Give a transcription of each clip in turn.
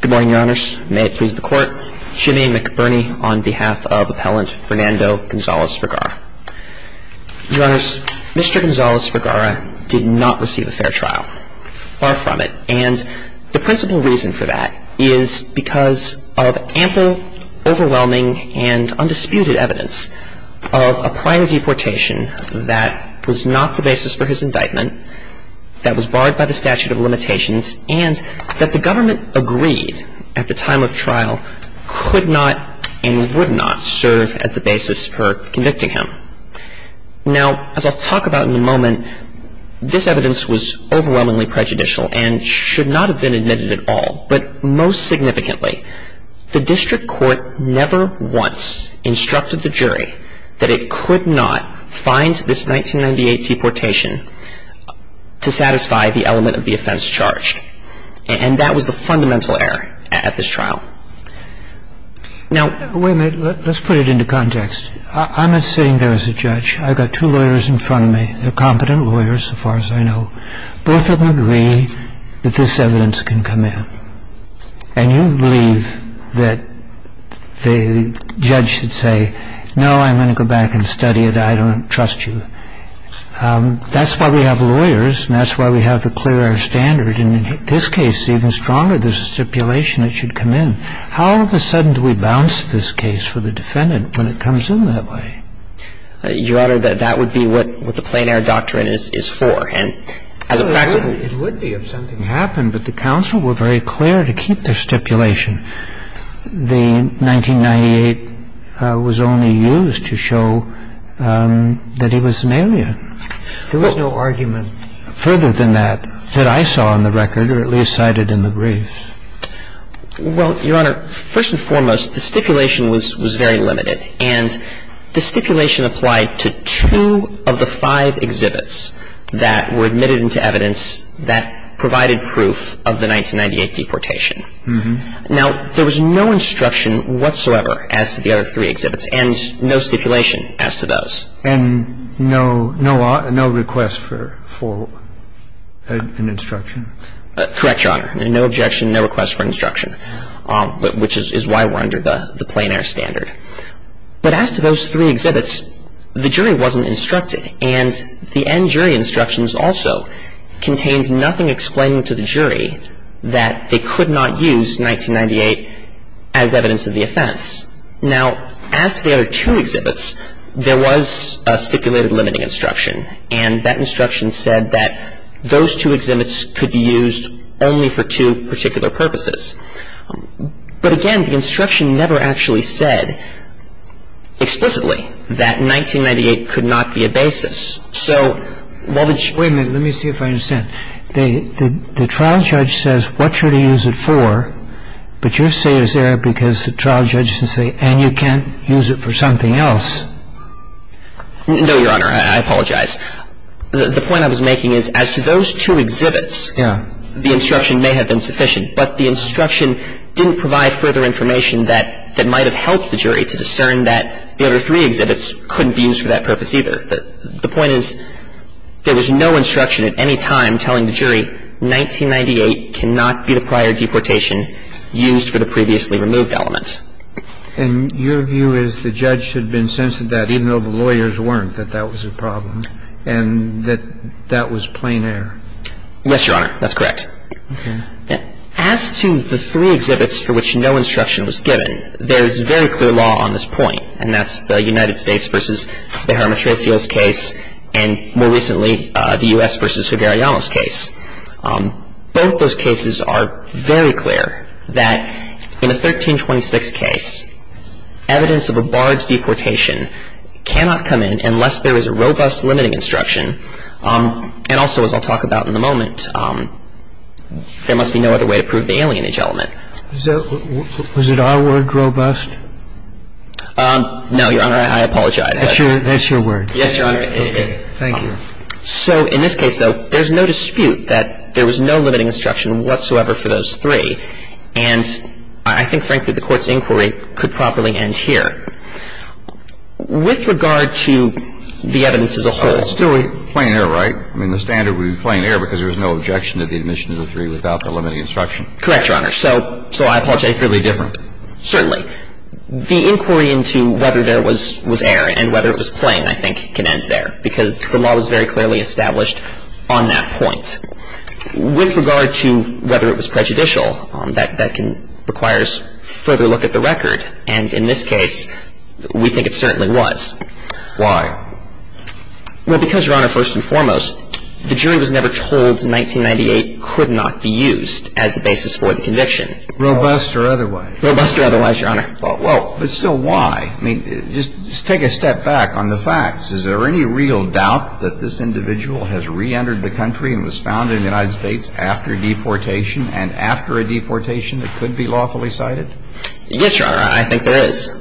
Good morning, Your Honors. May it please the Court. Jimmy McBurney on behalf of Appellant Fernando Gonzales-Vergara. Your Honors, Mr. Gonzales-Vergara did not receive a fair trial. Far from it. And the principal reason for that is because of ample, overwhelming, and undisputed evidence of a prior deportation that was not the basis for his indictment, that was barred by the statute of limitations, and that the government agreed at the time of trial could not and would not serve as the basis for convicting him. Now as I'll talk about in a moment, this evidence was overwhelmingly prejudicial and should not have been admitted at all. But most significantly, the district court never once instructed the jury that it could not find this 1998 deportation to satisfy the element of the offense. And that was the fundamental error at this trial. Now, wait a minute. Let's put it into context. I'm not sitting there as a judge. I've got two lawyers in front of me. They're competent lawyers, as far as I know. Both of them agree that this evidence can come in. And you believe that the judge should say, no, I'm going to go back and study it. I don't trust you. That's why we have lawyers, and that's why we have the clear air standard. And in this case, even stronger, there's a stipulation it should come in. How all of a sudden do we bounce this case for the defendant when it comes in that way? Your Honor, that would be what the plain air doctrine is for. And as a practice It would be if something happened. But the counsel were very clear to keep their stipulation. The 1998 was only used to show that he was an alien. There was no argument further than that that I saw on the record, or at least cited in the briefs. Well, Your Honor, first and foremost, the stipulation was very limited. And the stipulation applied to two of the five exhibits that were admitted into evidence that provided proof of the 1998 deportation. Now, there was no instruction whatsoever as to the other three exhibits, and no stipulation as to those. And no request for an instruction? Correct, Your Honor. No objection, no request for instruction, which is why we're under the plain air standard. But as to those three exhibits, the jury wasn't instructed. And the end jury instructions also contained nothing explaining to the jury that they could not use 1998 as evidence of the offense. Now, as to the other two exhibits, there was a stipulated limiting instruction. And that instruction said that those two exhibits could be used only for two particular purposes. But again, the instruction never actually said explicitly that 1998 could not be a basis. So while the jury was not instructed to use the 1998 as evidence of the deportation, there was no instruction at any time telling the jury that 1998 cannot be the prior deportation used for the previously removed element. And your view is the judge had been sensitive to that, even though the lawyers weren't, that that was a problem, and that that was plain air? Yes, Your Honor. That's correct. Okay. As to the three exhibits for which no instruction was given, there is very clear law on this point, and that's the United States v. the Jaramatracios case and, more recently, the U.S. v. Sugeriano's case. Both those cases are very clear that in a 1326 case, evidence of a barge deportation cannot come in unless there is a robust limiting instruction, and also, as I'll talk about in a moment, there must be no other way to prove the alienage element. Was it our word, robust? No, Your Honor. I apologize. That's your word. Yes, Your Honor. Okay. Thank you. So in this case, though, there's no dispute that there was no limiting instruction whatsoever for those three, and I think, frankly, the Court's inquiry could properly end here. With regard to the evidence as a whole. It's still plain air, right? I mean, the standard would be plain air because there's no objection to the admission of the three without the limiting instruction. Correct, Your Honor. So I apologize. It's really different. Certainly. The inquiry into whether there was air and whether it was plain, I think, can end there because the law was very clearly established on that point. With regard to whether it was prejudicial, that requires further look at the record, and in this case, we think it certainly was. Why? Well, because, Your Honor, first and foremost, the jury was never told 1998 could not be used as a basis for the conviction. Robust or otherwise. Robust or otherwise, Your Honor. Well, but still why? I mean, just take a step back on the facts. Is there any real doubt that this individual has reentered the country and was found in the United States after deportation and after a deportation that could be lawfully cited? Yes, Your Honor. I think there is.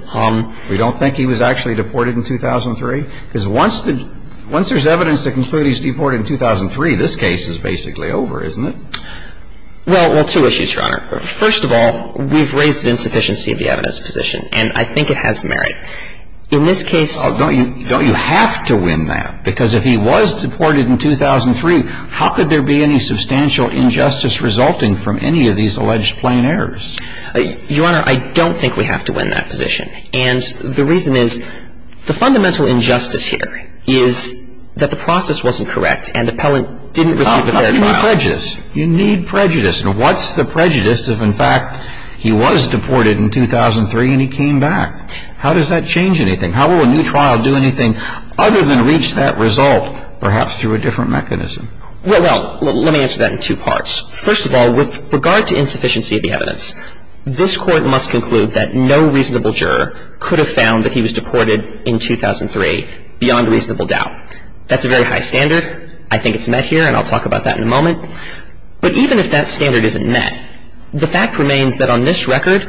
We don't think he was actually deported in 2003? Because once there's evidence to conclude he was deported in 2003, this case is basically over, isn't it? Well, two issues, Your Honor. First of all, we've raised the insufficiency of the evidence position, and I think it has merit. In this case — Don't you have to win that? Because if he was deported in 2003, how could there be any substantial injustice resulting from any of these alleged plain errors? Your Honor, I don't think we have to win that position. And the reason is the fundamental injustice here is that the process wasn't correct and the appellant didn't receive a fair trial. You need prejudice. You need prejudice. And what's the prejudice if, in fact, he was deported in 2003 and he came back? How does that change anything? How will a new trial do anything other than reach that result, perhaps through a different mechanism? Well, let me answer that in two parts. First of all, with regard to insufficiency of the evidence, this Court must conclude that no reasonable juror could have found that he was deported in 2003 beyond reasonable doubt. That's a very high standard. I think it's met here, and I'll talk about that in a moment. But even if that standard isn't met, the fact remains that on this record,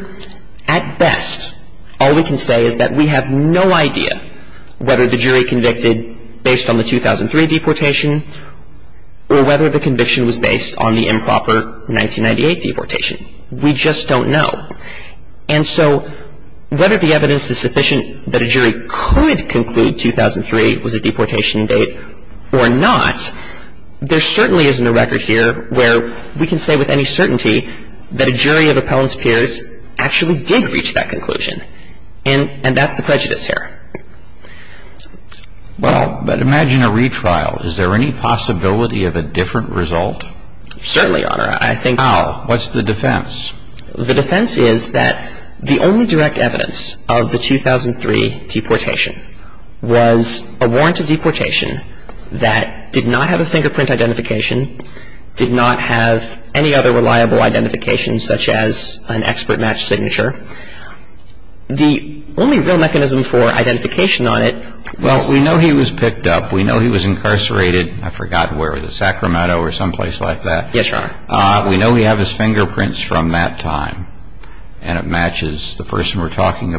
at best, all we can say is that we have no idea whether the jury convicted based on the 2003 deportation or whether the conviction was based on the improper 1998 deportation. We just don't know. And so whether the evidence is sufficient that a jury could conclude 2003 was a deportation or not, there certainly isn't a record here where we can say with any certainty that a jury of Appellant's peers actually did reach that conclusion. And that's the prejudice here. Well, but imagine a retrial. Is there any possibility of a different result? Certainly, Your Honor. I think How? What's the defense? The defense is that the only direct evidence of the 2003 deportation was a warrant of deportation that did not have a fingerprint identification, did not have any other reliable identification such as an expert match signature. The only real mechanism for identification on it was Well, we know he was picked up. We know he was incarcerated. I forgot where. Was it Sacramento or someplace like that? Yes, Your Honor. We know he had his fingerprints from that time, and it matches the person we're having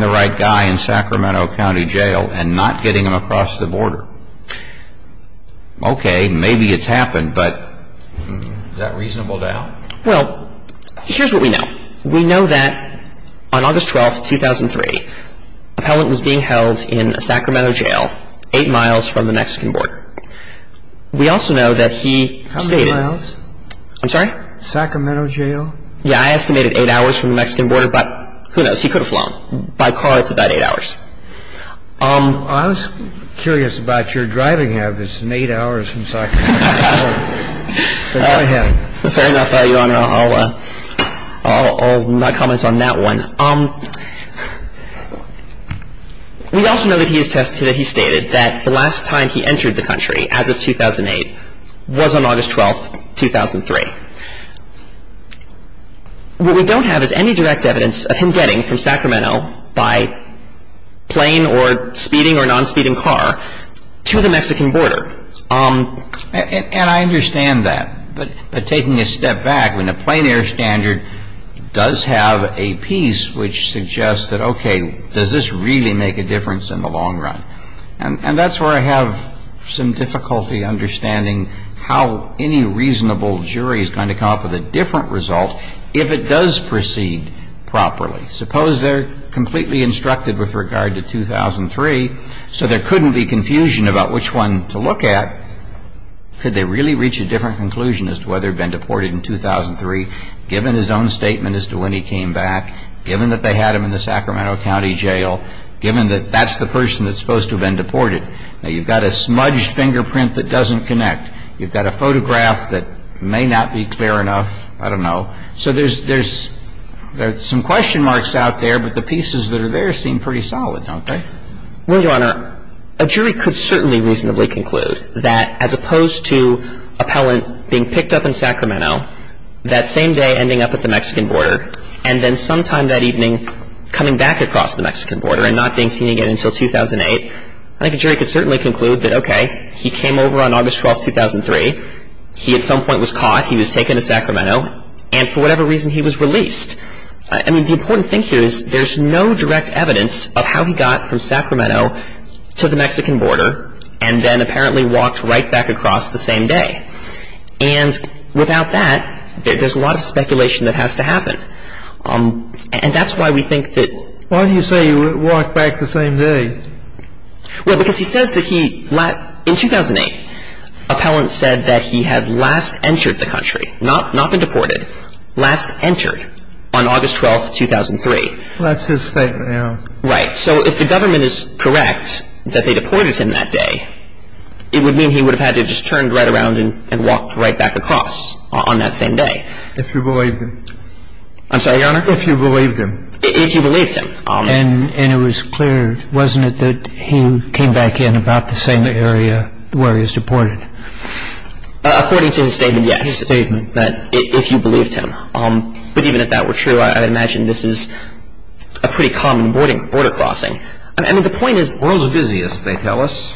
the right guy in Sacramento County Jail and not getting him across the border. Okay. Maybe it's happened, but is that reasonable now? Well, here's what we know. We know that on August 12th, 2003, Appellant was being held in a Sacramento jail eight miles from the Mexican border. We also know that he How many miles? I'm sorry? Sacramento Jail? Yeah, I estimated eight hours from the Mexican border, but who knows? He could have flown. By car, it's about eight hours. Well, I was curious about your driving habits in eight hours from Sacramento Jail. Fair enough, Your Honor. I'll not comment on that one. We also know that he attested that he stated that the last time he entered the country as of 2008 was on August 12th, 2003. What we don't have is any direct evidence of him getting from Sacramento by plane or speeding or non-speeding car to the Mexican border. And I understand that. But taking a step back, when the plane air standard does have a piece which suggests that, okay, does this really make a difference in the jury is going to come up with a different result if it does proceed properly. Suppose they're completely instructed with regard to 2003, so there couldn't be confusion about which one to look at. Could they really reach a different conclusion as to whether he had been deported in 2003, given his own statement as to when he came back, given that they had him in the Sacramento County Jail, given that that's the person that's supposed to have been deported? Well, Your Honor, a jury could certainly reasonably conclude that as opposed to appellant being picked up in Sacramento that same day ending up at the Mexican border, and then sometime that evening coming back across the Mexican border and not being seen again until 2008, I think a jury could reasonably conclude that okay, he came over on August 12, 2003, he at some point was caught, he was taken to Sacramento, and for whatever reason he was released. I mean, the important thing here is there's no direct evidence of how he got from Sacramento to the Mexican border and then apparently walked right back across the same day. And without that, there's a lot of speculation that has to happen. And that's why we think that... Why do you say he walked back the same day? Well, because he says that he... In 2008, appellant said that he had last entered the country, not been deported, last entered on August 12, 2003. Well, that's his statement, Your Honor. Right. So if the government is correct that they deported him that day, it would mean he would have had to have just turned right around and walked right back across on that same day. If you believe him. I'm sorry, Your Honor? If you believe him. If he believes him. And it was clear, wasn't it, that he came back in about the same area where he was deported? According to his statement, yes. His statement. If you believed him. But even if that were true, I would imagine this is a pretty common border crossing. I mean, the point is... The world is busy, as they tell us.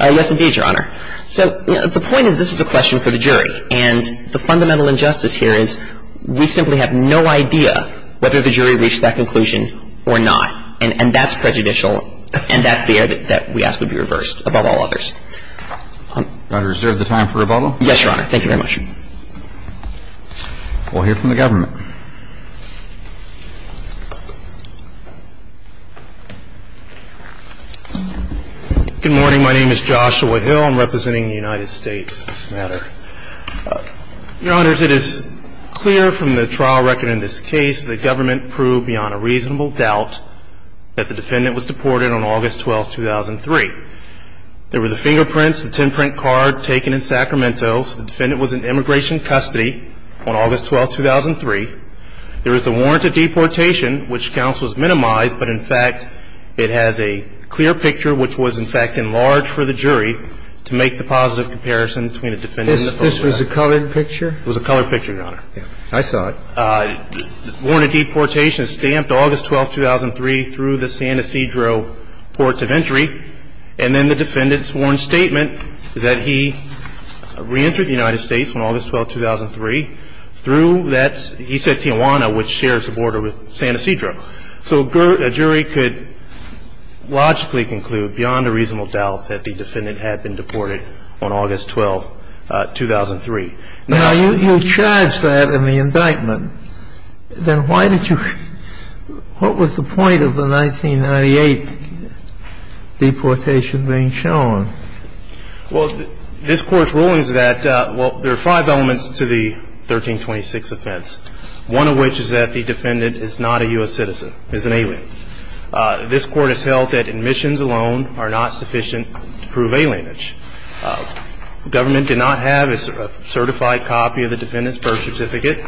Yes, indeed, Your Honor. So the point is this is a question for the jury. And the fundamental injustice here is we simply have no idea whether the jury reached that conclusion or not. And that's prejudicial, and that's the error that we ask would be reversed, above all others. Your Honor, is there the time for rebuttal? Yes, Your Honor. Thank you very much. We'll hear from the government. Good morning. My name is Joshua Hill. I'm representing the United States on this matter. Your Honor, it is clear from the trial record in this case that the government proved beyond a reasonable doubt that the defendant was deported on August 12, 2003. There were the fingerprints, the 10-print card taken in Sacramento, so the defendant was in immigration custody on August 12, 2003. There is the warrant of deportation, which counsel has minimized, but in fact, it has a clear picture which was, in fact, enlarged for the jury to make the positive comparison between the defendant and the foe. This was a colored picture? It was a colored picture, Your Honor. I saw it. The warrant of deportation is stamped August 12, 2003 through the San Ysidro port of entry, and then the defendant's sworn statement is that he reentered the United States on August 12, 2003 through that, he said, Tijuana, which shares the border with San Ysidro. So a jury could logically conclude beyond a reasonable doubt that the defendant had been deported on August 12, 2003. Now, you charged that in the indictment. Then why did you – what was the point of the 1998 deportation being shown? Well, this Court's ruling is that, well, there are five elements to the 1326 offense, one of which is that the defendant is not a U.S. citizen, is an alien. This Court has held that admissions alone are not sufficient to prove alienage. The government did not have a certified copy of the defendant's birth certificate.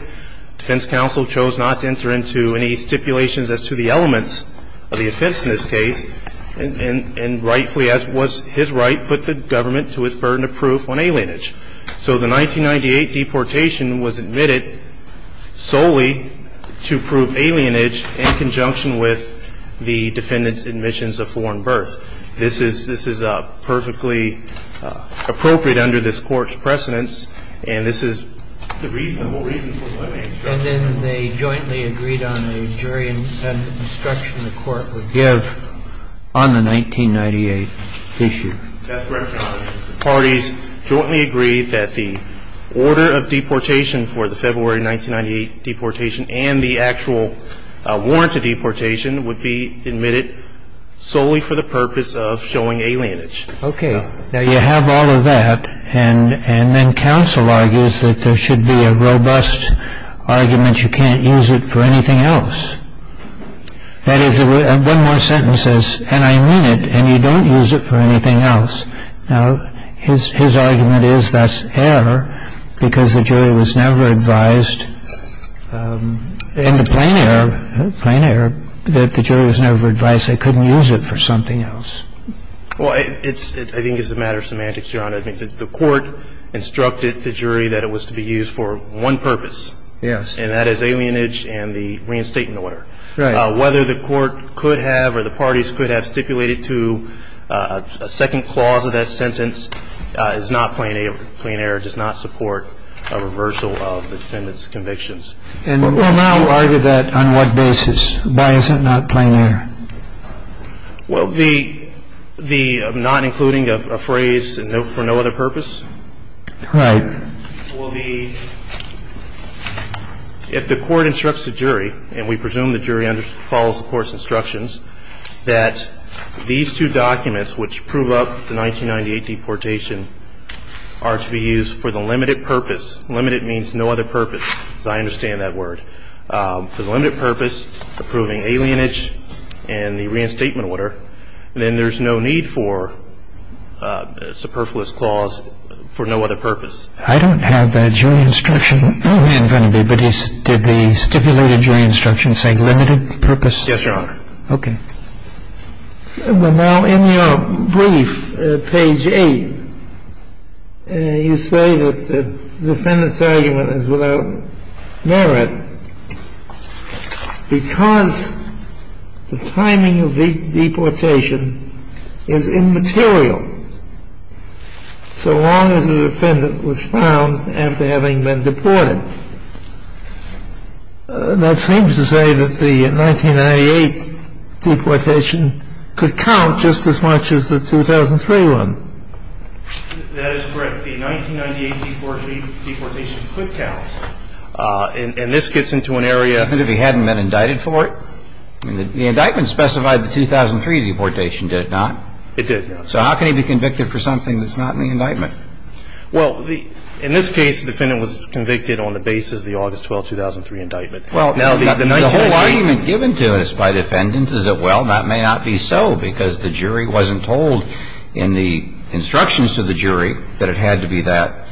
Defense counsel chose not to enter into any stipulations as to the elements of the offense in this case, and rightfully, as was his right, put the government to its burden of proof on alienage. So the 1998 deportation was admitted solely to prove alienage in conjunction with the defendant's admissions of foreign birth. This is – this is perfectly appropriate under this Court's precedents, and this is the reason – the whole reason for my main question. And then they jointly agreed on a jury-independent instruction the Court would give That's correct, Your Honor. The parties jointly agreed that the order of deportation for the February 1998 deportation and the actual warrant to deportation would be admitted solely for the purpose of showing alienage. Okay. Now, you have all of that, and then counsel argues that there should be a robust argument you can't use it for anything else. That is, one more sentence says, and I mean it, and you don't use it for anything else. Now, his – his argument is that's error because the jury was never advised in the plain error – plain error that the jury was never advised they couldn't use it for something else. Well, it's – I think it's a matter of semantics, Your Honor. I think that the Court instructed the jury that it was to be used for one purpose. Yes. And that is alienage and the reinstatement order. Right. Well, I think it's a matter of semantics, Your Honor, and I think it's a matter of semantics, Your Honor, and I think it's a matter of semantics, Your Honor, whether the Court could have or the parties could have stipulated to a second clause of that sentence is not plain error. Plain error does not support a reversal of the defendant's convictions. And we'll now argue that on what basis. Why is it not plain error? Well, the – the not including a phrase for no other purpose? Right. Well, the – if the Court instructs the jury, and we presume the jury follows the Court's instructions, that these two documents which prove up the 1998 deportation are to be used for the limited purpose. Limited means no other purpose, as I understand that word. Well, I don't have that jury instruction in front of me, but did the stipulated jury instruction say limited purpose? Yes, Your Honor. Okay. Well, now, in your brief, page 8, you say that the defendant's argument is without merit. I say that because the timing of the deportation is immaterial, so long as the defendant was found after having been deported. That seems to say that the 1998 deportation could count just as much as the 2003 one. That is correct. The 1998 deportation could count. And this gets into an area of the statute. And if he hadn't been indicted for it? The indictment specified the 2003 deportation, did it not? It did, Your Honor. So how can he be convicted for something that's not in the indictment? Well, in this case, the defendant was convicted on the basis of the August 12, 2003 indictment. Well, now the 1998 – The whole argument given to us by defendants is that, well, that may not be so because the jury wasn't told in the instructions to the jury that it had to be that –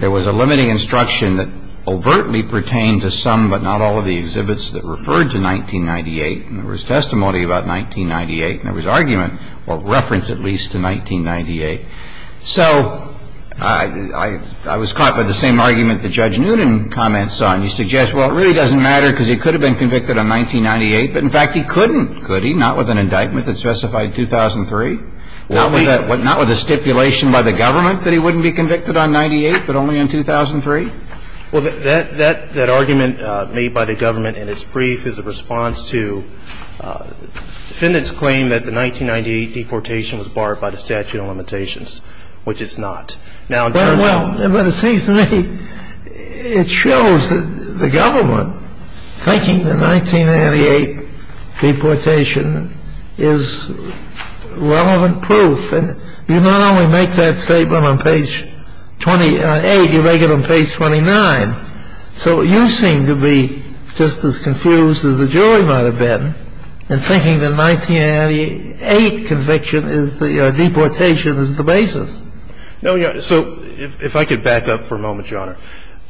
it was a limited instruction that overtly pertained to some but not all of the exhibits that referred to 1998. And there was testimony about 1998, and there was argument, well, reference at least to 1998. So I was caught by the same argument that Judge Noonan comments on. He suggests, well, it really doesn't matter because he could have been convicted on 1998, but in fact he couldn't, could he? Not with an indictment that specified 2003. Not with a stipulation by the government that he wouldn't be convicted on 98, but only on 2003? Well, that argument made by the government in its brief is a response to defendant's claim that the 1998 deportation was barred by the statute of limitations, which it's not. Now, in terms of – Well, but it seems to me it shows that the government, thinking the 1998 deportation is relevant proof, and you not only make that statement on page 28, you make it on page 29. So you seem to be just as confused as the jury might have been in thinking the 1998 conviction is the – deportation is the basis. No, Your Honor. So if I could back up for a moment, Your Honor.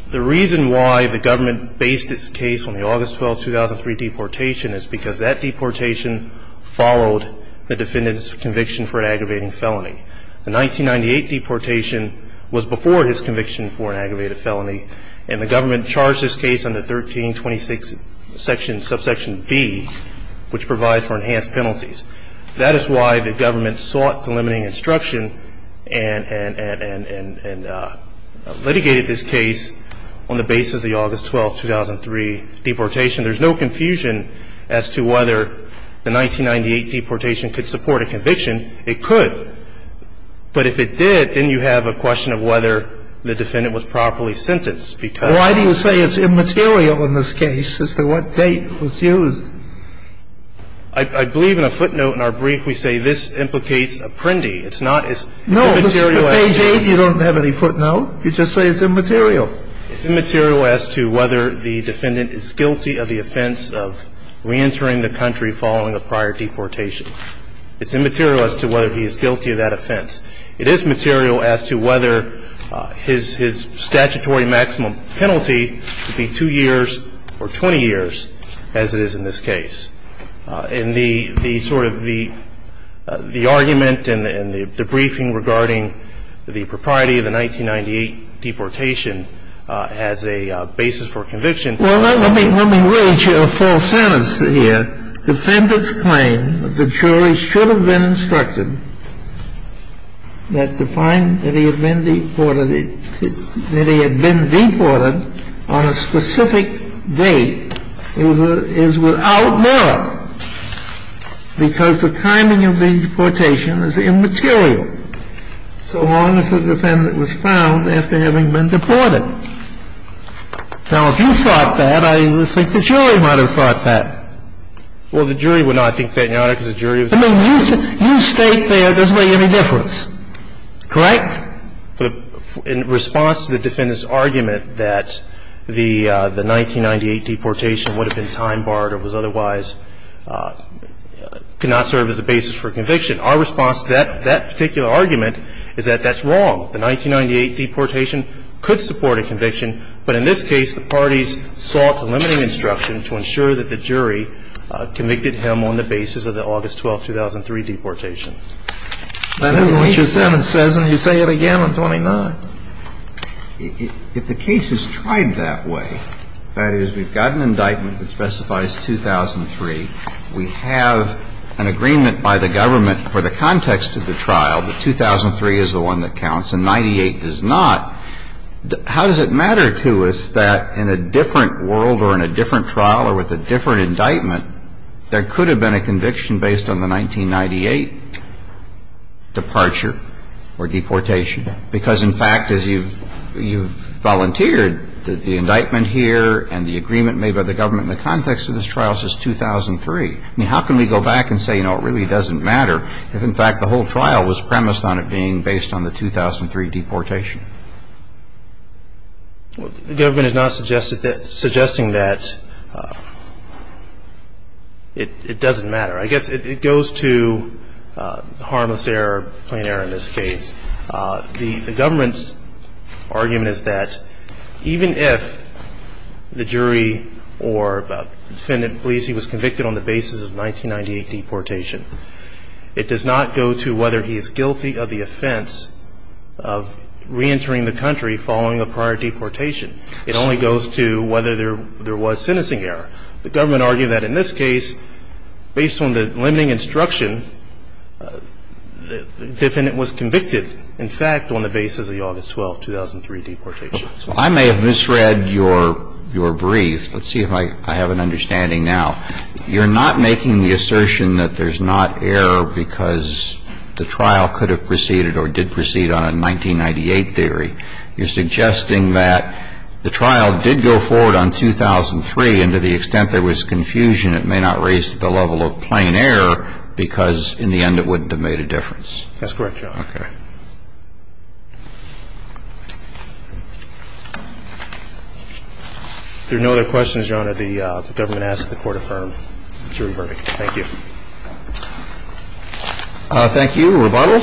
The reason why the government based its case on the August 12, 2003 deportation is because that deportation followed the defendant's conviction for an aggravating felony. The 1998 deportation was before his conviction for an aggravated felony, and the government charged this case under 1326 subsection B, which provides for enhanced penalties. That is why the government sought delimiting instruction and litigated this case on the basis of the August 12, 2003 deportation. There's no confusion as to whether the 1998 deportation could support a conviction. It could. But if it did, then you have a question of whether the defendant was properly sentenced, because – Why do you say it's immaterial in this case as to what date was used? I believe in a footnote in our brief we say this implicates apprendi. It's not – it's immaterial – No. Page 8, you don't have any footnote. You just say it's immaterial. It's immaterial as to whether the defendant is guilty of the offense of reentering the country following a prior deportation. It's immaterial as to whether he is guilty of that offense. It is material as to whether his statutory maximum penalty would be 2 years or 20 years as it is in this case. And the sort of the argument and the briefing regarding the propriety of the 1998 deportation has a basis for conviction. Well, let me – let me reach a false sentence here. Defendant's claim that the jury should have been instructed that to find that he had been deported – that he had been deported on a specific date is without merit because the timing of the deportation is immaterial so long as the defendant was found after having been deported. Now, if you thought that, I think the jury might have thought that. Well, the jury would not think that, Your Honor, because the jury was – I mean, you state there it doesn't make any difference. Correct? In response to the defendant's argument that the 1998 deportation would have been time-barred or was otherwise – could not serve as a basis for conviction, our response to that particular argument is that that's wrong. The 1998 deportation could support a conviction, but in this case, the parties sought the limiting instruction to ensure that the jury convicted him on the basis of the August 12, 2003 deportation. Let me reach a sentence. And you say it again on 29. If the case is tried that way, that is, we've got an indictment that specifies 2003. We have an agreement by the government for the context of the trial that 2003 is the date of the deportation. If the indictment is based on the 1998 deportation, and the 1998 does not, how does it matter to us that in a different world or in a different trial or with a different indictment, there could have been a conviction based on the 1998 departure or deportation? Because, in fact, as you've volunteered, the indictment here and the agreement made by the government in the context of this trial says 2003. I mean, how can we go back and say, you know, it really doesn't matter if, in fact, the whole trial was premised on it being based on the 2003 deportation? The government is not suggesting that it doesn't matter. I guess it goes to harmless error, plain error in this case. The government's argument is that even if the jury or defendant believes he was convicted on the basis of 1998 deportation, it does not go to whether he is guilty of the offense of reentering the country following a prior deportation. It only goes to whether there was sentencing error. The government argued that in this case, based on the limiting instruction, the defendant was convicted, in fact, on the basis of the August 12, 2003 deportation. So I may have misread your brief. Let's see if I have an understanding now. You're not making the assertion that there's not error because the trial could have proceeded or did proceed on a 1998 theory. You're suggesting that the trial did go forward on 2003, and to the extent there was confusion, it may not raise the level of plain error because, in the end, it wouldn't have made a difference. That's correct, Your Honor. Okay. If there are no other questions, Your Honor, the government asks that the Court affirm the jury verdict. Thank you. Thank you. Rebuttal?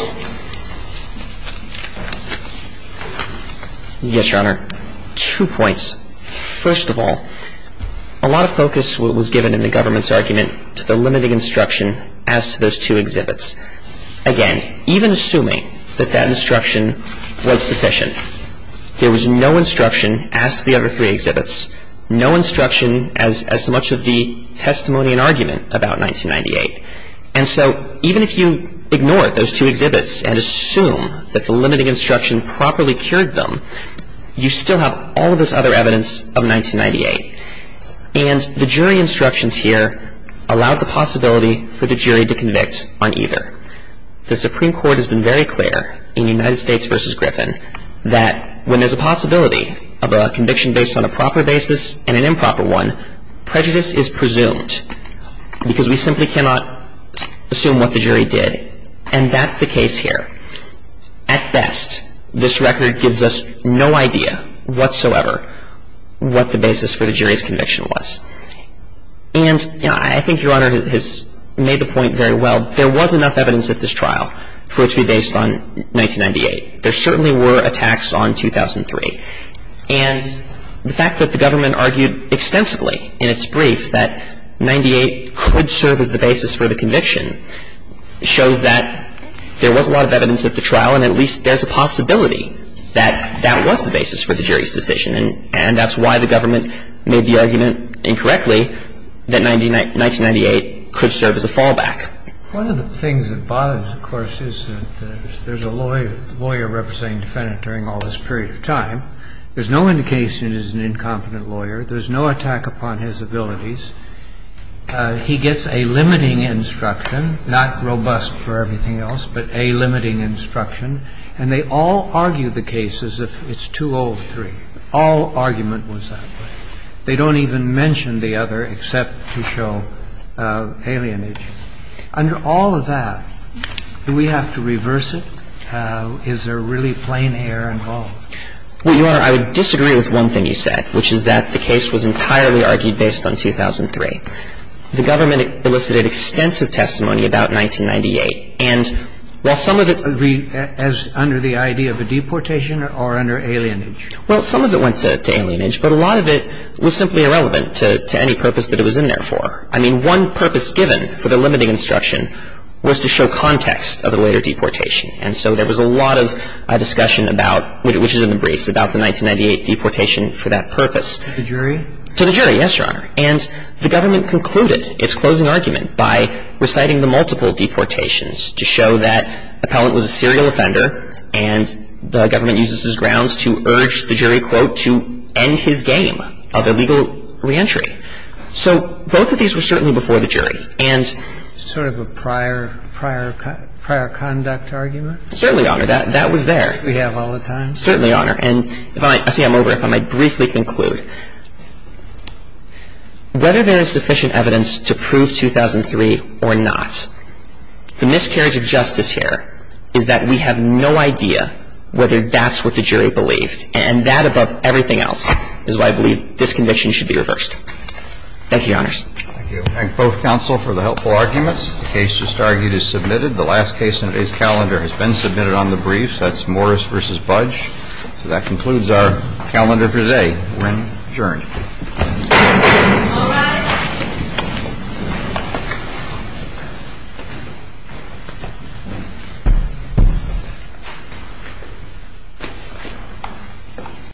Yes, Your Honor. Two points. First of all, a lot of focus was given in the government's argument to the limiting instruction as to those two exhibits. Again, even assuming that that instruction was sufficient, there was no instruction as to the other three exhibits, no instruction as to much of the testimony and argument about 1998. And so even if you ignore those two exhibits and assume that the limiting instruction properly cured them, you still have all of this other evidence of 1998. And the jury instructions here allowed the possibility for the jury to convict on either. The Supreme Court has been very clear in United States v. Griffin that when there's a possibility of a conviction based on a proper basis and an improper one, prejudice is presumed because we simply cannot assume what the jury did. And that's the case here. At best, this record gives us no idea whatsoever what the basis for the jury's conviction was. And, you know, I think Your Honor has made the point very well. There was enough evidence at this trial for it to be based on 1998. There certainly were attacks on 2003. And the fact that the government argued extensively in its brief that 98 could serve as the basis for the conviction shows that there was a lot of evidence at the trial, and at least there's a possibility that that was the basis for the jury's decision. And that's why the government made the argument incorrectly that 1998 could serve as a fallback. One of the things that bothers, of course, is that there's a lawyer representing the defendant during all this period of time. There's no indication it is an incompetent lawyer. There's no attack upon his abilities. He gets a limiting instruction, not robust for everything else, but a limiting instruction. And they all argue the case as if it's 203. All argument was that way. They don't even mention the other except to show alienation. Under all of that, do we have to reverse it? Is there really plain error involved? Well, Your Honor, I would disagree with one thing you said, which is that the case was entirely argued based on 2003. The government elicited extensive testimony about 1998. And while some of it's Under the idea of a deportation or under alienage? Well, some of it went to alienage, but a lot of it was simply irrelevant to any purpose that it was in there for. I mean, one purpose given for the limiting instruction was to show context of the later deportation. And so there was a lot of discussion about, which is in the briefs, about the 1998 deportation for that purpose. To the jury? To the jury, yes, Your Honor. And the government concluded its closing argument by reciting the multiple deportations to show that Appellant was a serial offender and the government uses his grounds to urge the jury, quote, to end his game of illegal reentry. So both of these were certainly before the jury. And Sort of a prior conduct argument? Certainly, Your Honor. That was there. We have all the time. Certainly, Your Honor. And I see I'm over. If I might briefly conclude. Whether there is sufficient evidence to prove 2003 or not, the miscarriage of justice here is that we have no idea whether that's what the jury believed. And that, above everything else, is why I believe this conviction should be reversed. Thank you, Your Honors. Thank you. We thank both counsel for the helpful arguments. The case just argued is submitted. The last case in today's calendar has been submitted on the briefs. That's Morris v. Budge. So that concludes our calendar for today. We're adjourned. All rise.